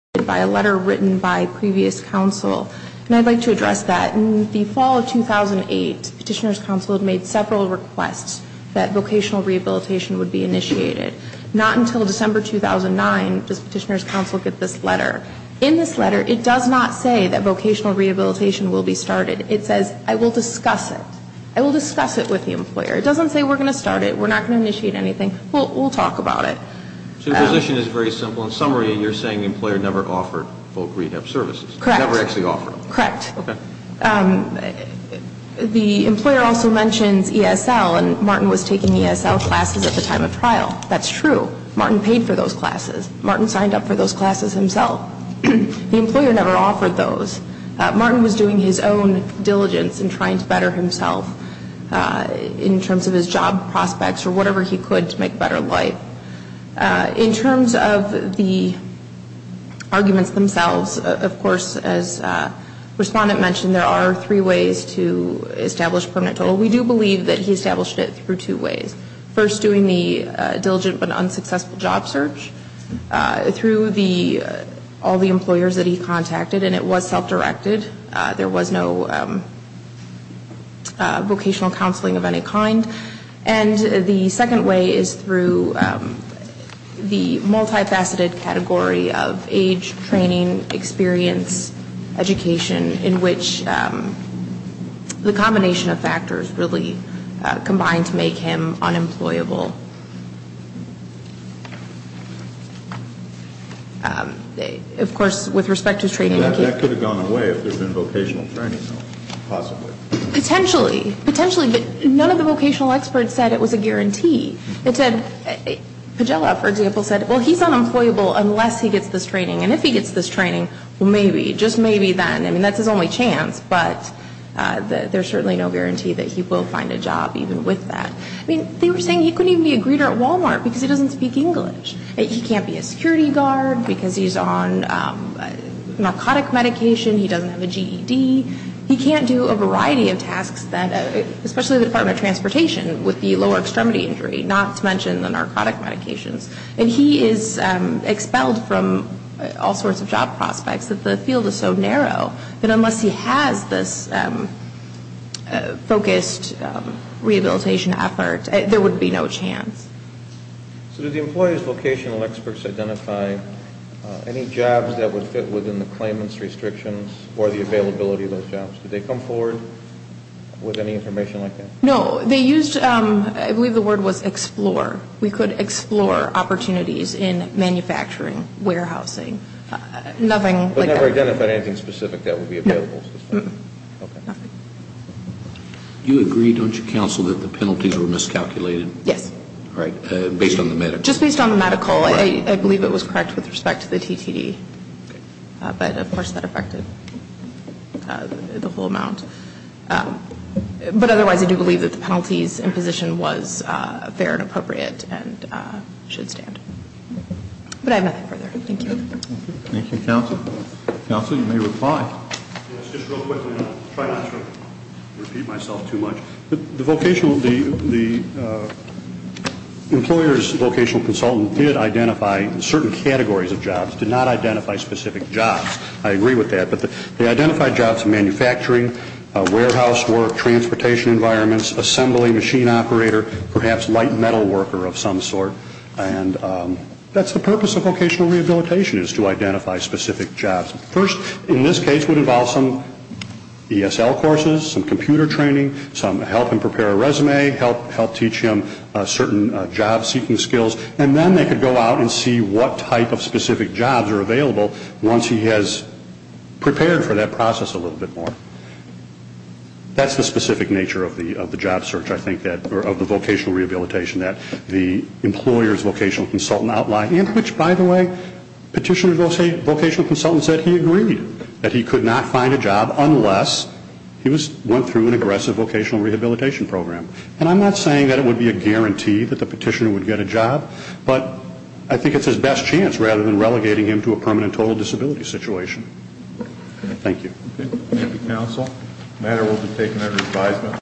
written by previous counsel. And I'd like to address that. In the fall of 2008, Petitioner's Counsel had made several requests that vocational rehabilitation would be initiated. Not until December 2009 does Petitioner's Counsel get this letter. In this letter, it does not say that vocational rehabilitation will be started. It says, I will discuss it. I will discuss it with the employer. It doesn't say we're going to start it. We're not going to initiate anything. We'll talk about it. So your position is very simple. In summary, you're saying the employer never offered folk rehab services. Correct. Never actually offered them. Correct. Okay. The employer also mentions ESL and Martin was taking ESL classes at the time of trial. That's true. Martin paid for those classes. Martin signed up for those classes himself. The employer never offered those. Martin was doing his own diligence in trying to better himself in terms of his job prospects or whatever he could to make a better life. In terms of the arguments themselves, of course, as the Respondent mentioned, there are three ways to establish permanent total. We do believe that he established it through two ways. First, doing the diligent but unsuccessful job search through all the employers that he contacted. And it was self-directed. There was no vocational counseling of any kind. And the second way is through the multifaceted category of age, training, experience, education, in which the combination of factors really combined to make him unemployable. Of course, with that, that could have gone away if there had been vocational training, though, possibly. Potentially. Potentially. But none of the vocational experts said it was a guarantee. It said, Pajella, for example, said, well, he's unemployable unless he gets this training. And if he gets this training, well, maybe. Just maybe then. I mean, that's his only chance. But there's certainly no guarantee that he will find a job even with that. I mean, they were saying he couldn't even be a greeter at Walmart because he doesn't speak English. He can't be a security guard because he's on narcotic medication. He doesn't have a GED. He can't do a variety of tasks that, especially the Department of Transportation with the lower extremity injury, not to mention the narcotic medications. And he is expelled from all sorts of job prospects. The field is so narrow that unless he has this focused rehabilitation effort, there would be no chance. So did the employees' vocational experts identify any jobs that would fit within the claimants' restrictions or the availability of those jobs? Did they come forward with any information like that? No. They used, I believe the word was explore. We could explore opportunities in manufacturing, warehousing, nothing like that. But never identified anything specific that would be available. No. Nothing. You agree, don't you, counsel, that the penalties were miscalculated? Yes. Based on the medical? Just based on the medical. I believe it was correct with respect to the TTD. But of course that affected the whole amount. But otherwise, I do believe that the penalties and position was fair and appropriate and should stand. But I have nothing further. Thank you. Thank you, counsel. Counsel, you may reply. Yes, just real quickly. I'll try not to repeat myself too much. The vocational, the employer's vocational consultant did identify certain categories of jobs, did not identify specific jobs. I agree with that. But they identified jobs in manufacturing, warehouse work, transportation environments, assembly, machine operator, perhaps light metal worker of some sort. And that's the purpose of vocational rehabilitation is to identify specific jobs. First, in this case, would involve some ESL courses, some computer training, some help him prepare a resume, help teach him certain job-seeking skills. And then they could go out and see what type of specific jobs are available once he has prepared for that process a little bit more. That's the specific nature of the job search, I think, of the vocational rehabilitation that the employer's vocational consultant outlined. And which, by the way, petitioner's vocational consultant said he agreed that he could not find a job unless he went through an aggressive vocational rehabilitation program. And I'm not saying that it would be a guarantee that the petitioner would get a job, but I think it's his best chance rather than relegating him to a permanent total disability situation. Thank you. Thank you, counsel. Matter will be taken under advisement.